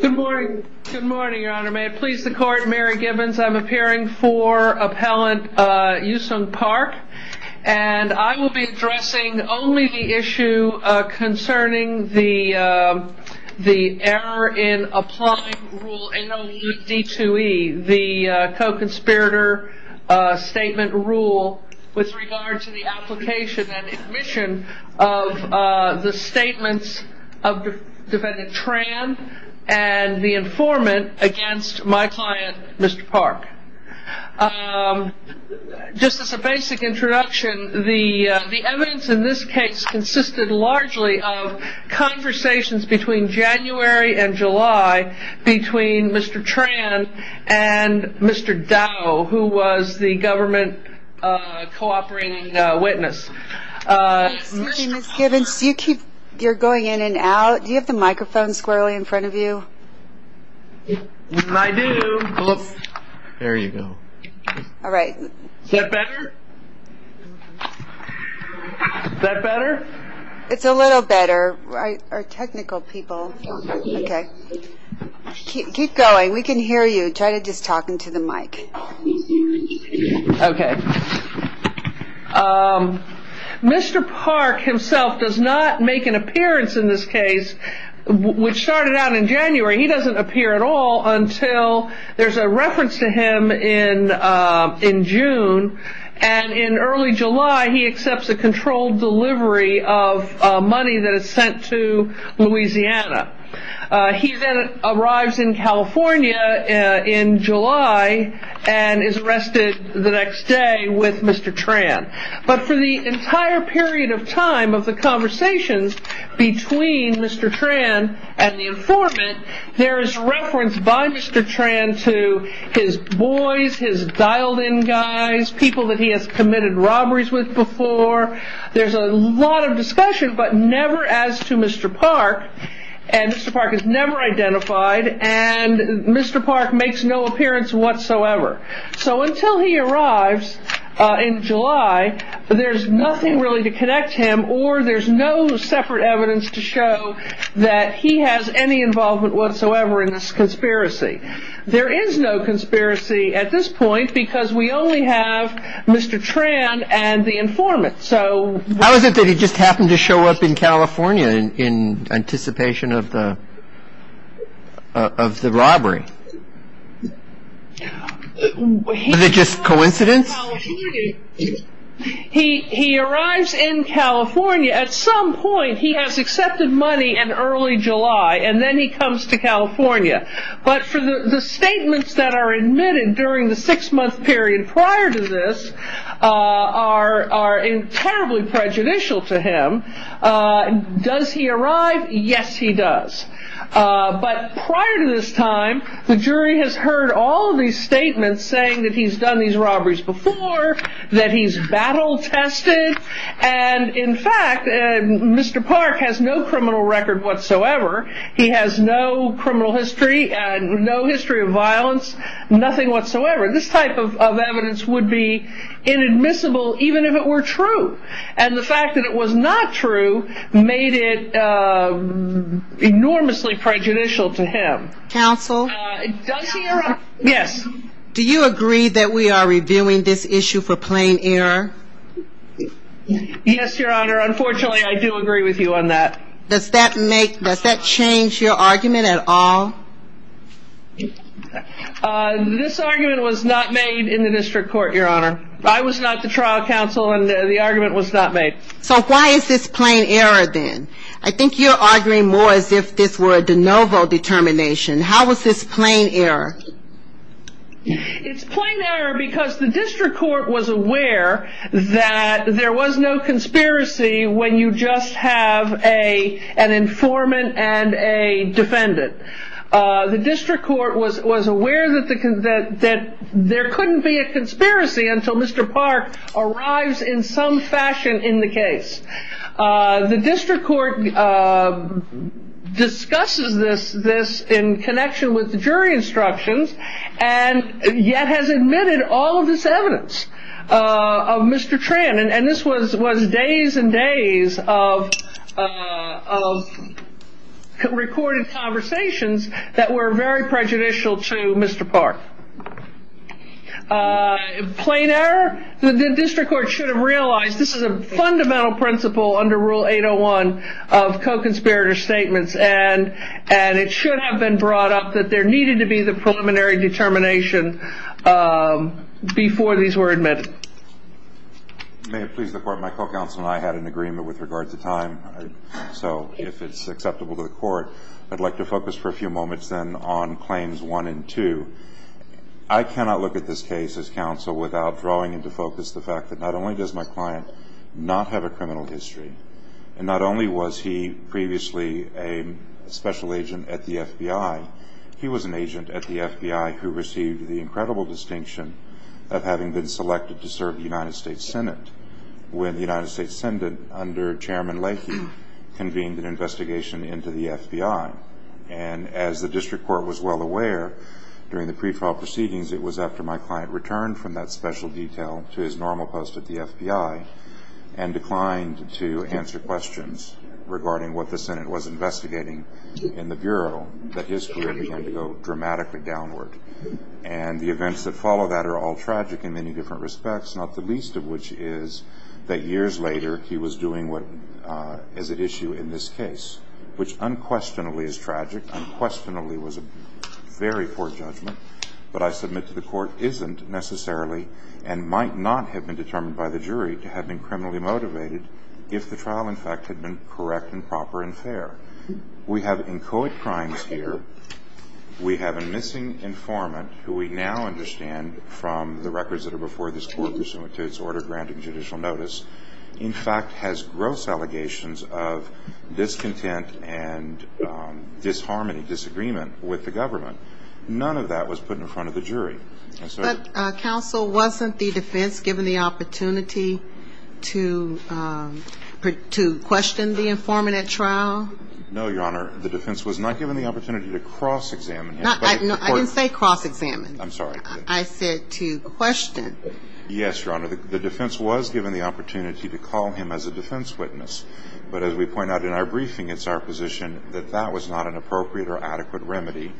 Good morning, your honor. May it please the court, Mary Gibbons. I'm appearing for appellant Yu Sung Park and I will be addressing only the issue concerning the the error in applying rule NOE-D2E, the co-conspirator statement rule with regard to the application and admission of the statements of defendant Tran and the informant against my client, Mr. Park. Just as a basic introduction, the evidence in this case consisted largely of conversations between January and July between Mr. Tran and Mr. Dow, who was the government co-operating witness. Excuse me, Ms. Gibbons, you're going in and out. Do you have the microphone squarely in front of you? I do. There you go. All right. Is that better? Is that better? It's a little better. Our technical people. Okay. Keep going. We can hear you. Try just talking to the mic. Okay. Mr. Park himself does not make an appearance in this case, which started out in January. He doesn't appear at all until there's a reference to him in June and in early July he accepts a controlled delivery of money that is sent to Louisiana. He then arrives in California in July and is arrested the next day with Mr. Tran. But for the entire period of time of the conversations between Mr. Tran and the informant, there is reference by Mr. Tran to his boys, his dialed in guys, people that he has committed robberies with before. There's a lot of discussion, but never as to Mr. Park and Mr. Park is never identified and Mr. Park makes no appearance whatsoever. So until he arrives in July, there's nothing really to connect him or there's no separate evidence to show that he has any involvement whatsoever in this conspiracy. There is no conspiracy at this point because we only have Mr. Tran and the informant. How is it that he just happened to show up in California in anticipation of the robbery? Is it just coincidence? He arrives in California at some point. He has accepted money in early July and then he comes to California. But for the statements that are admitted during the six month period prior to this are terribly prejudicial to him. Does he arrive? Yes, he does. But prior to this time, the jury has heard all of these statements saying that he's done these robberies before, that he's battle tested. And in fact, Mr. Park has no criminal record whatsoever. He has no criminal history and no history of violence, nothing whatsoever. This type of inadmissible, even if it were true and the fact that it was not true, made it enormously prejudicial to him. Counsel? Yes. Do you agree that we are reviewing this issue for plain error? Yes, Your Honor. Unfortunately, I do agree with you on that. Does that make, does that change your argument at all? Uh, this argument was not made in the district court, Your Honor. I was not the trial counsel and the argument was not made. So why is this plain error then? I think you're arguing more as if this were a de novo determination. How was this plain error? It's plain error because the district court was aware that there was no conspiracy when you just have an informant and a was aware that there couldn't be a conspiracy until Mr. Park arrives in some fashion in the case. The district court discusses this in connection with the jury instructions and yet has admitted all of this evidence of Mr. Tran. And this was days and days of recorded conversations that were very prejudicial to Mr. Park. Plain error? The district court should have realized this is a fundamental principle under Rule 801 of co-conspirator statements and it should have been brought up that there needed to be the preliminary determination before these were admitted. May it please the court, my co-counsel and I had an agreement with regard to time. So if it's acceptable to the court, I'd like to focus for a few moments then on claims one and two. I cannot look at this case as counsel without drawing into focus the fact that not only does my client not have a criminal history and not only was he previously a special agent at the FBI, he was an agent at the FBI who received the incredible distinction of having been selected to serve the United States Senate when the United States Senate under Chairman Leahy convened an investigation into the FBI. And as the district court was well aware during the pre-trial proceedings, it was after my client returned from that special detail to his normal post at the FBI and declined to answer questions regarding what the Senate was investigating in the Bureau that his career began to go dramatically downward. And the events that of which is that years later he was doing what is at issue in this case, which unquestionably is tragic, unquestionably was a very poor judgment, but I submit to the court isn't necessarily and might not have been determined by the jury to have been criminally motivated if the trial, in fact, had been correct and proper and fair. We have inchoate crimes here. We have a missing informant who we now understand from the records that are before this court pursuant to its order granting judicial notice, in fact, has gross allegations of discontent and disharmony, disagreement with the government. None of that was put in front of the jury. But Counsel, wasn't the defense given the opportunity to question the informant at trial? No, Your Honor, the defense was not given the opportunity to cross-examine. I'm sorry. I said to question. Yes, Your Honor, the defense was given the opportunity to call him as a defense witness. But as we point out in our briefing, it's our position that that was not an appropriate or adequate remedy.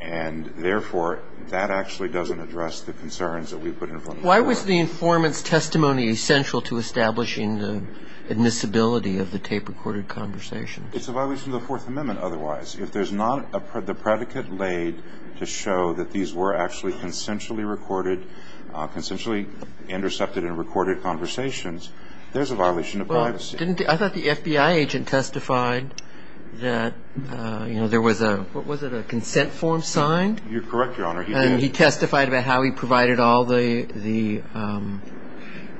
And therefore, that actually doesn't address the concerns that we've put in front of the court. Why was the informant's testimony essential to establishing the admissibility of the tape-recorded conversation? It's a violation of the Fourth Amendment otherwise. If there's not the predicate laid to show that these were actually consensually recorded, consensually intercepted and recorded conversations, there's a violation of privacy. I thought the FBI agent testified that, you know, there was a, what was it, a consent form signed? You're correct, Your Honor. And he testified about how he provided all the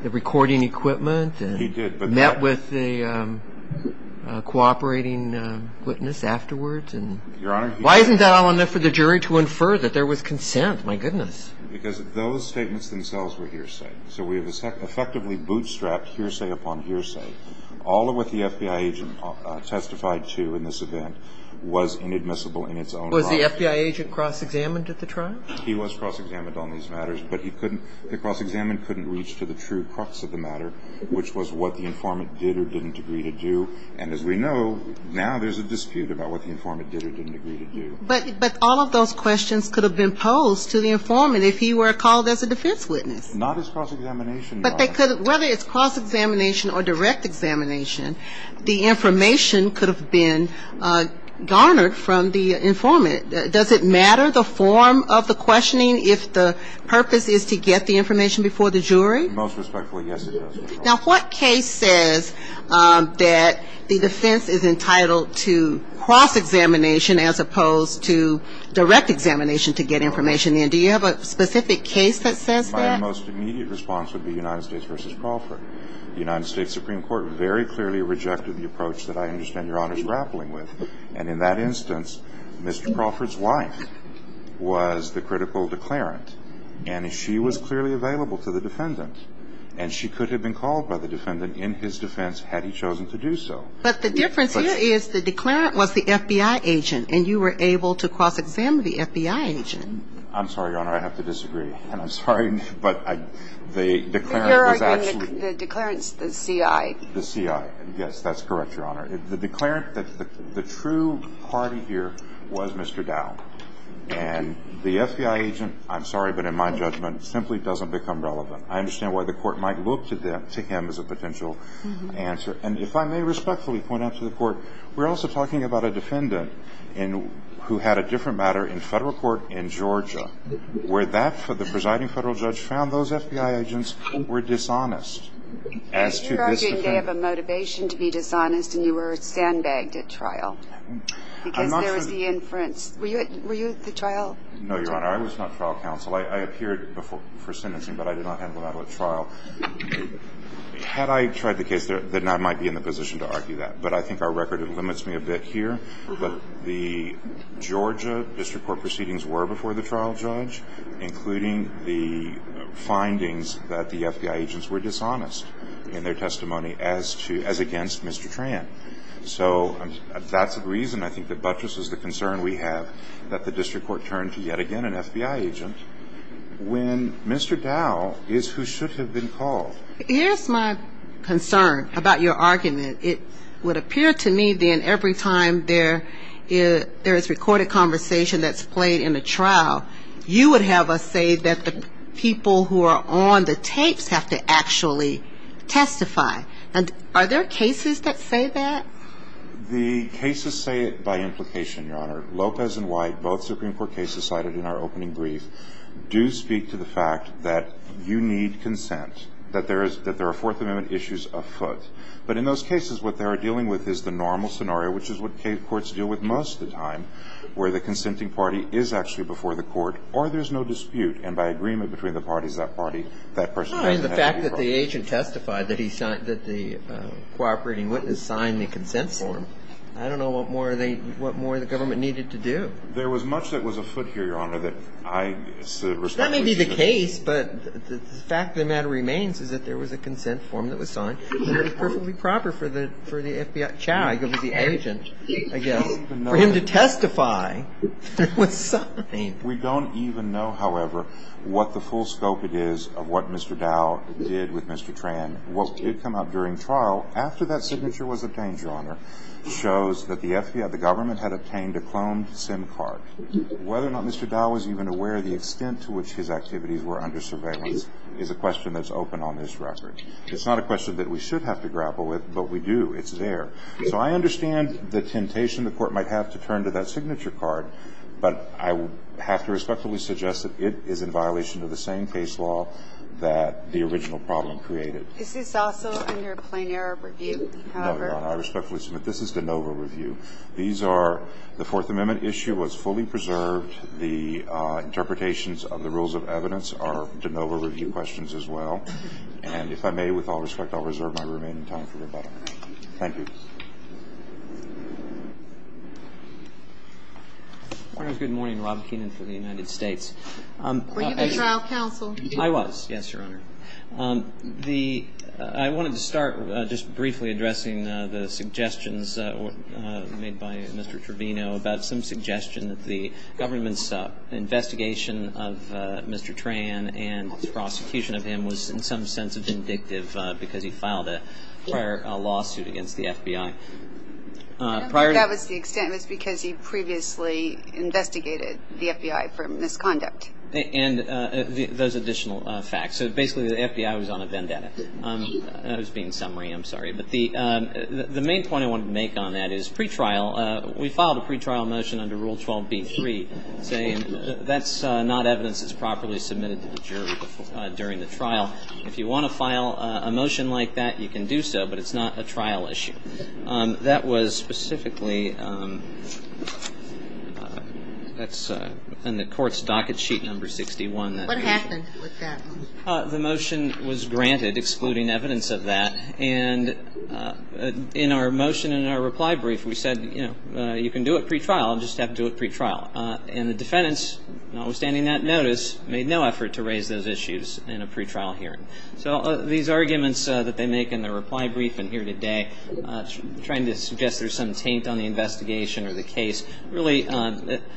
recording equipment? He did. And met with the cooperating witness afterwards? Your Honor. Why isn't that all enough for the jury to infer that there was consent? My goodness. Because those statements themselves were hearsay. So we have effectively bootstrapped hearsay upon hearsay. All of what the FBI agent testified to in this event was inadmissible in its own right. Was the FBI agent cross-examined at the trial? He was cross-examined on these matters. But he couldn't, the cross-examined couldn't reach to the true crux of the matter, which was what the informant did or didn't agree to do. And as we know, now there's a dispute about what the informant did or didn't agree to do. But all of those questions could have been posed to the informant if he were called as a defense witness. Not as cross-examination, Your Honor. But they could, whether it's cross-examination or direct examination, the information could have been garnered from the informant. Does it matter the form of the questioning if the purpose is to get the information before the jury? Most respectfully, yes, it does, Your Honor. Now what case says that the defense is entitled to cross-examination as opposed to direct examination to get information in? Do you have a specific case that says that? My most immediate response would be United States v. Crawford. United States Supreme Court very clearly rejected the approach that I understand Your Honor's grappling with. And in that instance, Mr. Crawford's wife was the critical declarant. And she was clearly available to the defendant. And she could have been called by the defendant in his defense had he chosen to do so. But the difference here is the declarant was the FBI agent. And you were able to cross-examine the FBI agent. I'm sorry, Your Honor. I have to disagree. And I'm sorry. But the declarant was actually But you're arguing the declarant's the CI. The CI. Yes, that's correct, Your Honor. The declarant, the true party here was Mr. Dow. And the FBI agent, I'm sorry, but in my judgment, simply doesn't become relevant. I understand why the court might look to him as a potential answer. And if I may respectfully point out to the court, we're also talking about a defendant who had a different matter in federal court in Georgia, where the presiding federal judge found those FBI agents were dishonest. You're arguing they have a motivation to be dishonest, and you were sandbagged at trial. Because there was the inference. Were you at the trial? No, Your Honor. I was not trial counsel. I appeared for sentencing, but I did not handle that at trial. Had I tried the case, then I might be in the position to argue that. But I think our record limits me a bit here. But the Georgia district court proceedings were before the trial judge, including the findings that the FBI agents were dishonest in their testimony as against Mr. Tran. So that's the reason, I think, that buttresses the concern we have that the district court turned to yet again an FBI agent when Mr. Dow is who should have been called. Here's my concern about your argument. It would appear to me then every time there is recorded conversation that's played in a trial, you would have us say that the people who are on the tapes have to actually testify. Are there cases that say that? The cases say it by implication, Your Honor. Lopez and White, both Supreme Court cases cited in our opening brief, do speak to the fact that you need consent, that there are Fourth Amendment issues afoot. But in those cases, what they are dealing with is the normal scenario, which is what courts deal with most of the time, where the consenting party is actually before the court or there's no dispute. And by agreement between the parties, that party, that person doesn't have to be brought in. I mean, the fact that the agent testified that the cooperating witness signed the consent form, I don't know what more the government needed to do. There was much that was afoot here, Your Honor. That may be the case, but the fact of the matter remains is that there was a consent form that was signed. We don't even know, however, what the full scope it is of what Mr. Dow did with Mr. Tran. What did come out during trial, after that signature was obtained, Your Honor, shows that the FBI, the government, had obtained a cloned SIM card. Whether or not Mr. Dow was even aware of the extent to which his activities were under surveillance is a question that's open on this record. It's not a question that we should have to grapple with, but we do. It's there. So I understand the temptation the court might have to turn to that signature card, but I have to respectfully suggest that it is in violation of the same case law that the original problem created. Is this also under a plain error review, however? No, Your Honor. I respectfully submit this is de novo review. These are the Fourth Amendment issue was fully preserved. The interpretations of the rules of evidence are de novo review questions as well. And if I may, with all respect, I'll reserve my remaining time for rebuttal. Thank you. Your Honor, good morning. Rob Keenan for the United States. Were you the trial counsel? I was, yes, Your Honor. I wanted to start just briefly addressing the suggestions made by Mr. Trevino about some suggestion that the government's investigation of Mr. Tran and the prosecution of him was in some sense vindictive because he filed a prior lawsuit against the FBI. I don't think that was the extent. It was because he previously investigated the FBI for misconduct. And those additional facts. So basically, the FBI was on a vendetta. That was being summary. I'm sorry. But the main point I wanted to make on that is pretrial. We filed a pretrial motion under Rule 12b-3 saying that's not evidence that's properly submitted to the jury during the trial. If you want to file a motion like that, you can do so, but it's not a trial issue. That was specifically in the court's docket sheet number 61. What happened with that? The motion was granted, excluding evidence of that. And in our motion, in our reply brief, we said, you know, you can do it pretrial. Just have to do it pretrial. And the defendants, notwithstanding that notice, made no effort to raise those issues in a pretrial hearing. So these arguments that they make in the reply brief and here today, trying to suggest there's some taint on the investigation or the case. Really,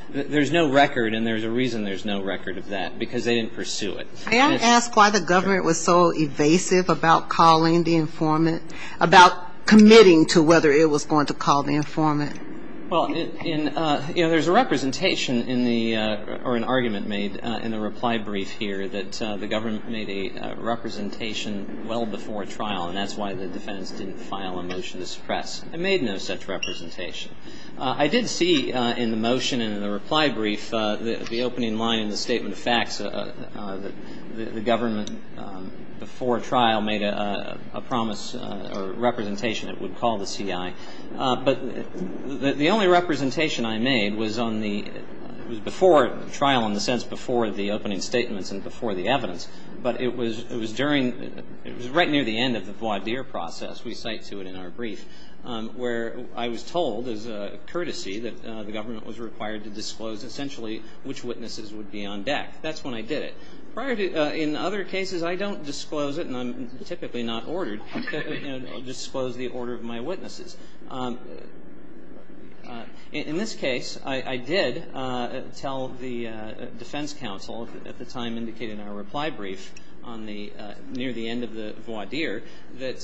there's no record. And there's a reason there's no record of that. Because they didn't pursue it. May I ask why the government was so evasive about calling the informant? About committing to whether it was going to call the informant? Well, you know, there's a representation in the, or an argument made in the reply brief here that the government made a representation well before trial. And that's why the defendants didn't file a motion to suppress. They made no such representation. I did see in the motion and in the reply brief, the opening line in the statement of facts that the government, before trial, made a promise or representation it would call the CI. But the only representation I made was on the, it was before trial, in the sense before the opening statements and before the evidence. But it was during, it was right near the end of the voir dire process, we cite to it in our brief, where I was told as a courtesy that the government was required to disclose essentially which witnesses would be on deck. That's when I did it. Prior to, in other cases, I don't disclose it. And I'm typically not ordered to disclose the order of my witnesses. In this case, I did tell the defense counsel, at the time indicated in our reply brief, on the, near the end of the voir dire, that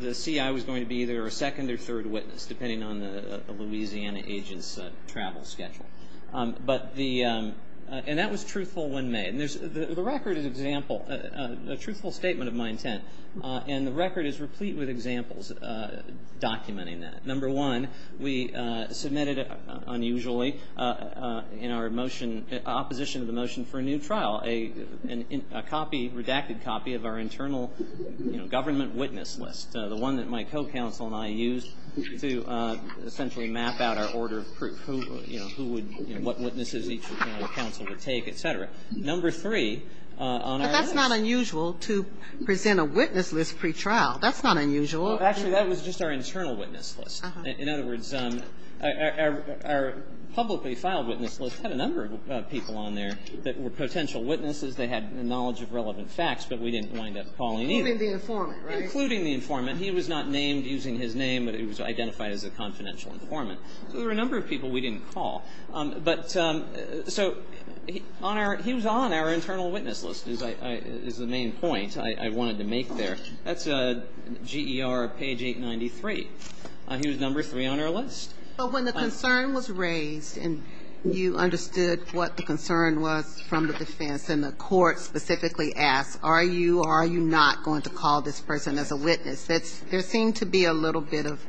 the CI was going to be either a second or third witness, depending on the Louisiana agent's travel schedule. But the, and that was truthful when made. And there's, the record is example, a truthful statement of my intent. And the record is replete with examples documenting that. Number one, we submitted, unusually, in our motion, opposition of the motion for a new trial, a copy, redacted copy of our internal, you know, government witness list. The one that my co-counsel and I used to essentially map out our order of proof. Who, you know, who would, you know, what witnesses each counsel would take, et cetera. Number three, on our list. It's not unusual to present a witness list pre-trial. That's not unusual. Well, actually, that was just our internal witness list. In other words, our publicly filed witness list had a number of people on there that were potential witnesses. They had knowledge of relevant facts, but we didn't wind up calling either. Including the informant, right? Including the informant. He was not named using his name, but he was identified as a confidential informant. So there were a number of people we didn't call. But so on our, he was on our internal witness list, is the main point I wanted to make there. That's GER page 893. He was number three on our list. But when the concern was raised, and you understood what the concern was from the defense, and the court specifically asked, are you or are you not going to call this person as a witness? That's, there seemed to be a little bit of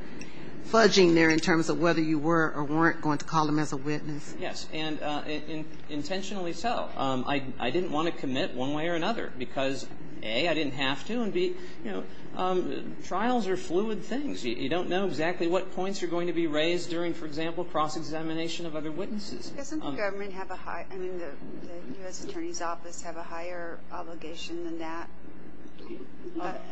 fudging there in terms of whether you were or weren't going to call him as a witness. Yes. And intentionally so. I didn't want to commit one way or another. Because A, I didn't have to. And B, you know, trials are fluid things. You don't know exactly what points are going to be raised during, for example, cross-examination of other witnesses. Doesn't the government have a high, I mean, the U.S. Attorney's Office have a higher obligation than that,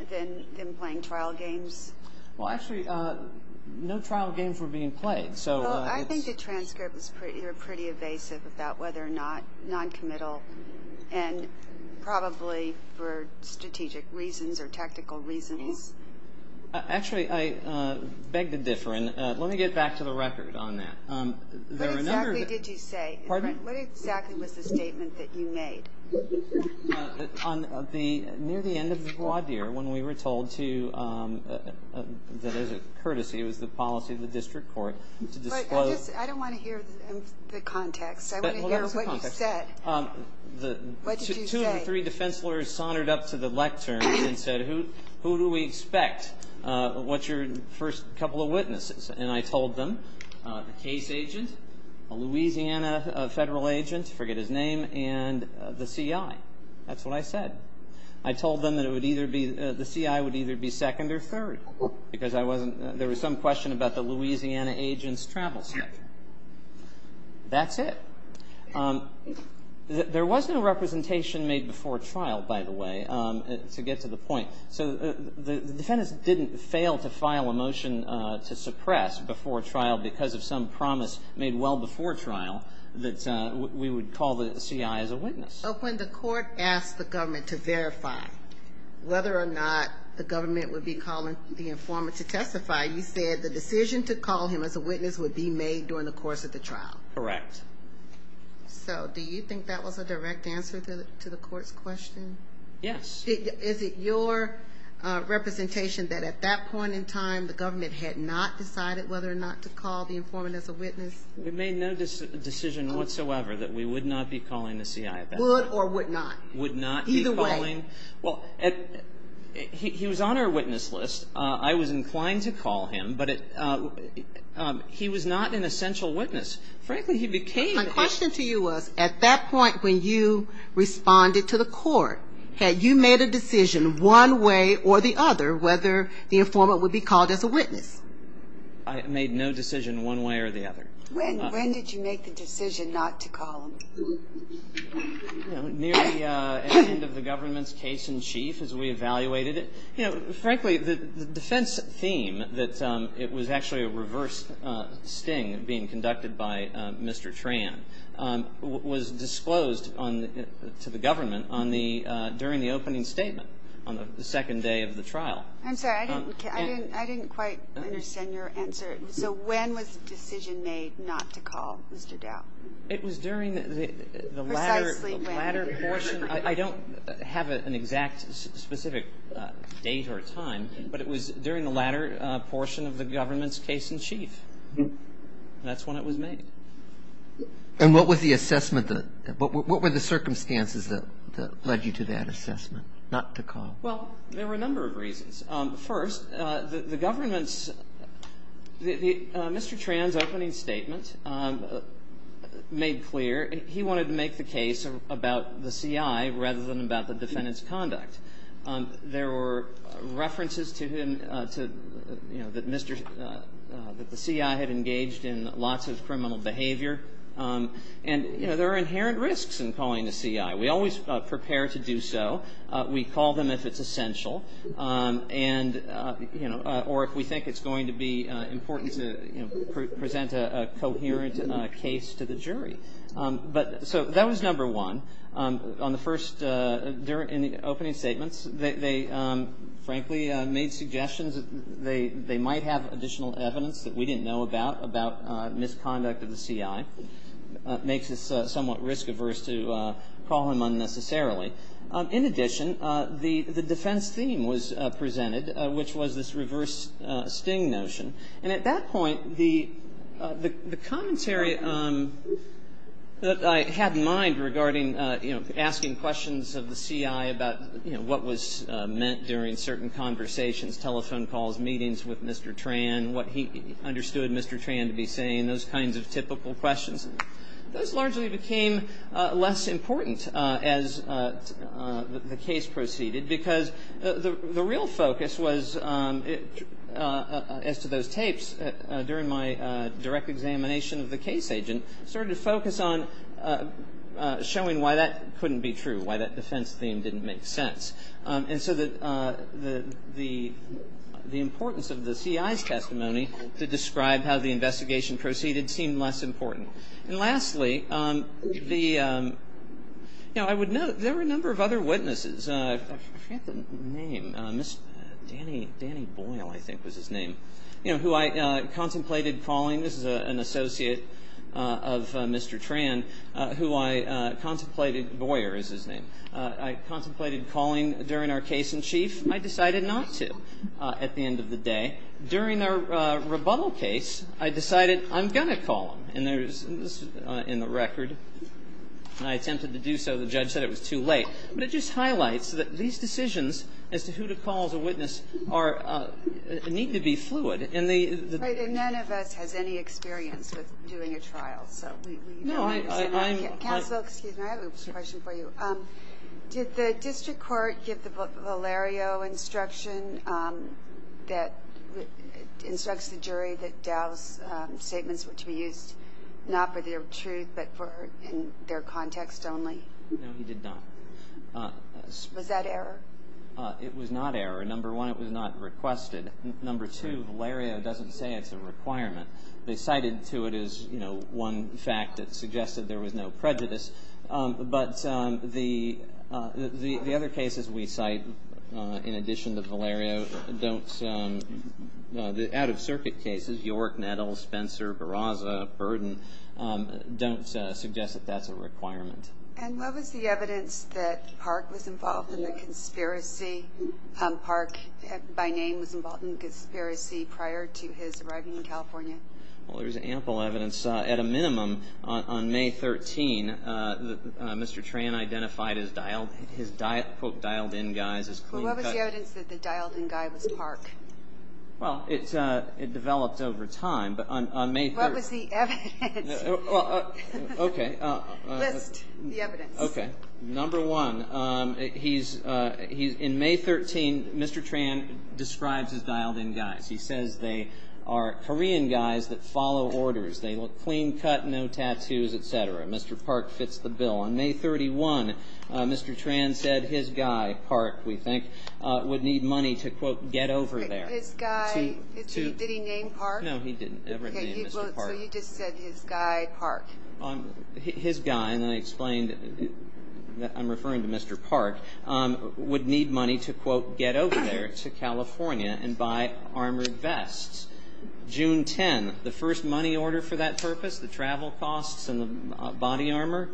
than playing trial games? Well, actually, no trial games were being played. Well, I think the transcripts were pretty evasive about whether or not noncommittal and probably for strategic reasons or tactical reasons. Actually, I beg to differ. And let me get back to the record on that. What exactly did you say? What exactly was the statement that you made? On the, near the end of the voir dire, when we were told to, that as a courtesy, it was the policy of the district court to disclose. I don't want to hear the context. I want to hear what you said. The two or three defense lawyers sonnered up to the lecterns and said, who do we expect? What's your first couple of witnesses? And I told them, the case agent, a Louisiana federal agent, forget his name, and the CI. That's what I said. I told them that it would either be, the CI would either be second or third. Because I wasn't, there was some question about the Louisiana agent's travel schedule. That's it. There was no representation made before trial, by the way, to get to the point. So the defendants didn't fail to file a motion to suppress before trial because of some promise made well before trial that we would call the CI as a witness. But when the court asked the government to verify whether or not the government would be calling the informant to testify, you said the decision to call him as a witness would be made during the course of the trial. Correct. So do you think that was a direct answer to the court's question? Yes. Is it your representation that at that point in time, the government had not decided whether or not to call the informant as a witness? We made no decision whatsoever that we would not be calling the CI. Would or would not? Would not be calling. Either way. Well, he was on our witness list. I was inclined to call him, but he was not an essential witness. Frankly, he became a witness. My question to you was, at that point when you responded to the court, had you made a decision one way or the other whether the informant would be called as a witness? I made no decision one way or the other. When did you make the decision not to call him? You know, nearly at the end of the government's case in chief as we evaluated it. You know, frankly, the defense theme that it was actually a reverse sting being conducted by Mr. Tran was disclosed to the government during the opening statement on the second day of the trial. I'm sorry. I didn't quite understand your answer. So when was the decision made not to call Mr. Dow? It was during the latter portion. I don't have an exact specific date or time, but it was during the latter portion of the government's case in chief. That's when it was made. And what were the circumstances that led you to that assessment, not to call? Well, there were a number of reasons. First, the government's Mr. Tran's opening statement made clear he wanted to make the case about the CI rather than about the defendant's conduct. There were references to him that the CI had engaged in lots of criminal behavior. And there are inherent risks in calling the CI. We always prepare to do so. We call them if it's essential. And, you know, or if we think it's going to be important to present a coherent case to the jury. So that was number one. On the first opening statements, they frankly made suggestions that they might have additional evidence that we didn't know about, about misconduct of the CI. It makes us somewhat risk-averse to call him unnecessarily. In addition, the defense theme was presented, which was this reverse sting notion. And at that point, the commentary that I had in mind regarding, you know, asking questions of the CI about, you know, what was meant during certain conversations, telephone calls, meetings with Mr. Tran, what he understood Mr. Tran to be saying, those kinds of typical questions, those largely became less important as the case proceeded. Because the real focus was, as to those tapes, during my direct examination of the case agent, started to focus on showing why that couldn't be true, why that defense theme didn't make sense. And so the importance of the CI's testimony to describe how the investigation proceeded seemed less important. And lastly, the, you know, I would note, there were a number of other witnesses. I forget the name. Mr. Danny, Danny Boyle, I think was his name. You know, who I contemplated calling. This is an associate of Mr. Tran, who I contemplated, Boyer is his name. I contemplated calling during our case in chief. I decided not to at the end of the day. During our rebuttal case, I decided I'm going to call him. And there's, in the record, and I attempted to do so. The judge said it was too late. But it just highlights that these decisions as to who to call as a witness are, need to be fluid. And the... Right. And none of us has any experience with doing a trial. So we... No, I'm... Counsel, excuse me, I have a question for you. Did the district court give Valerio instruction that, instructs the jury that Dow's statements were to be used not for their truth, but for their context only? No, he did not. Was that error? It was not error. Number one, it was not requested. Number two, Valerio doesn't say it's a requirement. They cited to it as, you know, one fact that suggested there was no prejudice. But the other cases we cite, in addition to Valerio, don't... The out-of-circuit cases, York, Nettle, Spencer, Barraza, Burden, don't suggest that that's a requirement. And what was the evidence that Park was involved in the conspiracy? Park, by name, was involved in the conspiracy prior to his arriving in California? Well, there's ample evidence. At a minimum, on May 13, Mr. Tran identified his, quote, dialed-in guys as clean-cut... Well, what was the evidence that the dialed-in guy was Park? Well, it developed over time, but on May 13... What was the evidence? Well, okay. List the evidence. Okay. Number one, he's... In May 13, Mr. Tran describes his dialed-in guys. He says they are Korean guys that follow orders. They look clean-cut, no tattoos, et cetera. Mr. Park fits the bill. On May 31, Mr. Tran said his guy, Park, we think, would need money to, quote, get over there. His guy? Did he name Park? No, he didn't ever name Mr. Park. So you just said his guy, Park. His guy, and I explained that I'm referring to Mr. Park, would need money to, quote, get over there to California and buy armored vests. June 10, the first money order for that purpose, the travel costs and the body armor,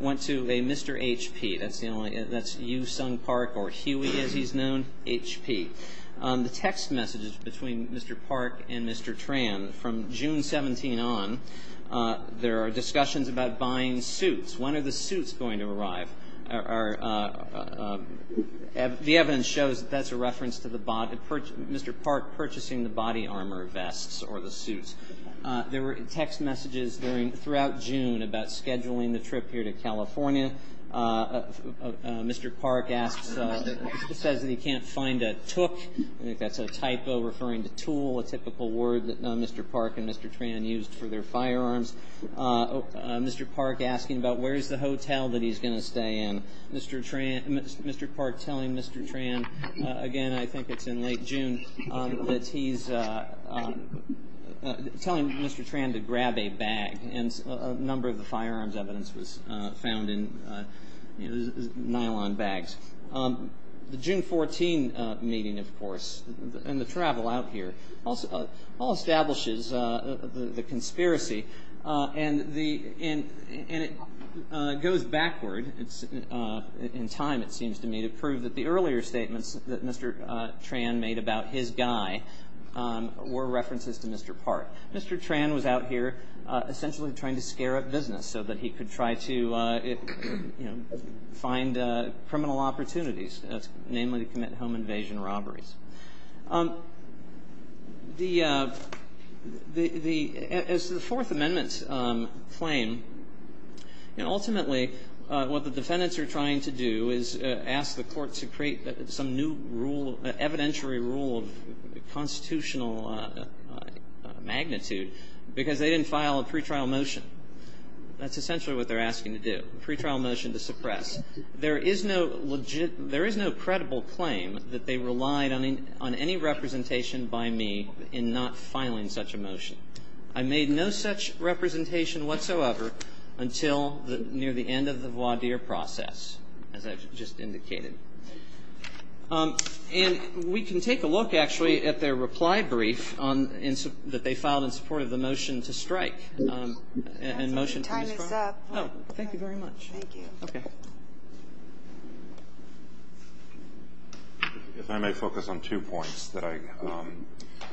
went to a Mr. HP. That's the only... That's Yoo Sung Park, or Huey, as he's known, HP. The text messages between Mr. Park and Mr. Tran from June 17 on, there are discussions When are the suits going to arrive? The evidence shows that that's a reference to Mr. Park purchasing the body armor vests or the suits. There were text messages throughout June about scheduling the trip here to California. Mr. Park says that he can't find a tuk. I think that's a typo referring to tool, a typical word that Mr. Park and Mr. Tran used for their firearms. Mr. Park asking about where's the hotel that he's going to stay in. Mr. Park telling Mr. Tran, again, I think it's in late June, that he's telling Mr. Tran to grab a bag. A number of the firearms evidence was found in nylon bags. The June 14 meeting, of course, and the travel out here, all establishes the conspiracy and it goes backward in time, it seems to me, to prove that the earlier statements that Mr. Tran made about his guy were references to Mr. Park. Mr. Tran was out here essentially trying to scare up business so that he could try to find criminal opportunities, namely to commit home invasion robberies. The Fourth Amendment claim, and ultimately what the defendants are trying to do is ask the court to create some new rule, evidentiary rule of constitutional magnitude, because they didn't file a pretrial motion. That's essentially what they're asking to do, a pretrial motion to suppress. There is no credible claim that they relied on any representation by me in not filing such a motion. I made no such representation whatsoever until near the end of the voir dire process, as I've just indicated. And we can take a look, actually, at their reply brief that they filed in support of the motion to strike and motion to destroy. Time is up. Oh, thank you very much. Thank you. Okay. If I may focus on two points that I,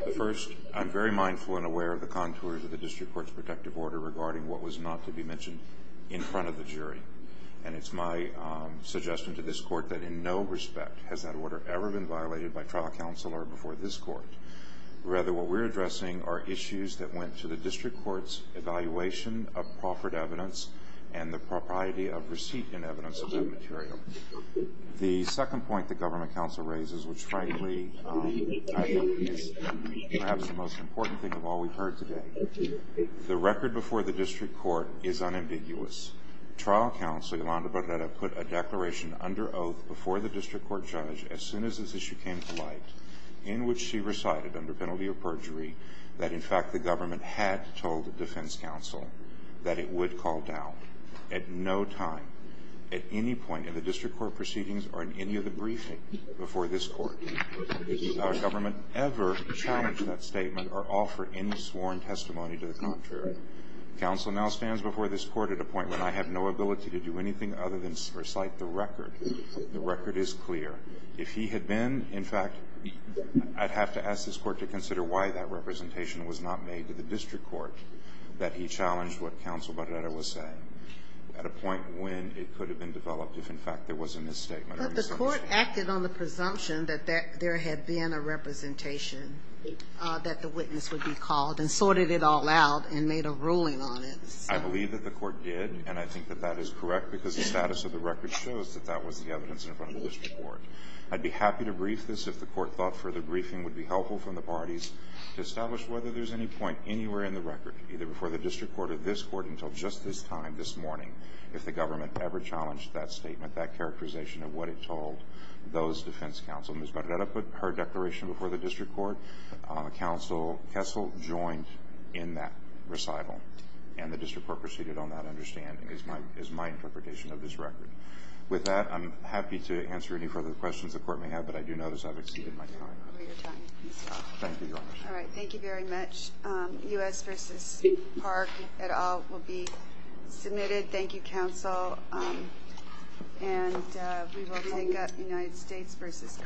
the first, I'm very mindful and aware of the contours of the district court's protective order regarding what was not to be mentioned in front of the jury. And it's my suggestion to this court that in no respect has that order ever been violated by trial counselor before this court. Rather, what we're addressing are issues that went to the district court's evaluation of proffered evidence and the propriety of receipt and evidence of that material. The second point the government counsel raises, which frankly is perhaps the most important thing of all we've heard today, the record before the district court is unambiguous. Trial counselor Yolanda Barrera put a declaration under oath before the district court judge as soon as this issue came to light, in which she recited under penalty of perjury that in fact, the government had told the defense counsel that it would call down at no time, at any point in the district court proceedings or in any of the briefing before this court, the government ever challenged that statement or offer any sworn testimony to the contrary. Counsel now stands before this court at a point when I have no ability to do anything other than recite the record. The record is clear. If he had been, in fact, I'd have to ask this court to consider why that representation was not made to the district court that he challenged what counsel Barrera was saying at a point when it could have been developed if, in fact, there was a misstatement. But the court acted on the presumption that there had been a representation that the witness would be called and sorted it all out and made a ruling on it. I believe that the court did and I think that that is correct because the status of the record shows that that was the evidence in front of the district court. I'd be happy to brief this if the court thought further briefing would be helpful from the parties to establish whether there's any point anywhere in the record, either before the district court or this court until just this time this morning, if the government ever challenged that statement, that characterization of what it told those defense counsel. Ms. Barrera put her declaration before the district court. Counsel Kessel joined in that recital and the district court proceeded on that understanding is my interpretation of this record. With that, I'm happy to answer any further questions the court may have, but I do notice I've exceeded my time. All right. Thank you very much. U.S. versus Park et al will be submitted. Thank you, counsel. And we will take up United States versus Cardenas.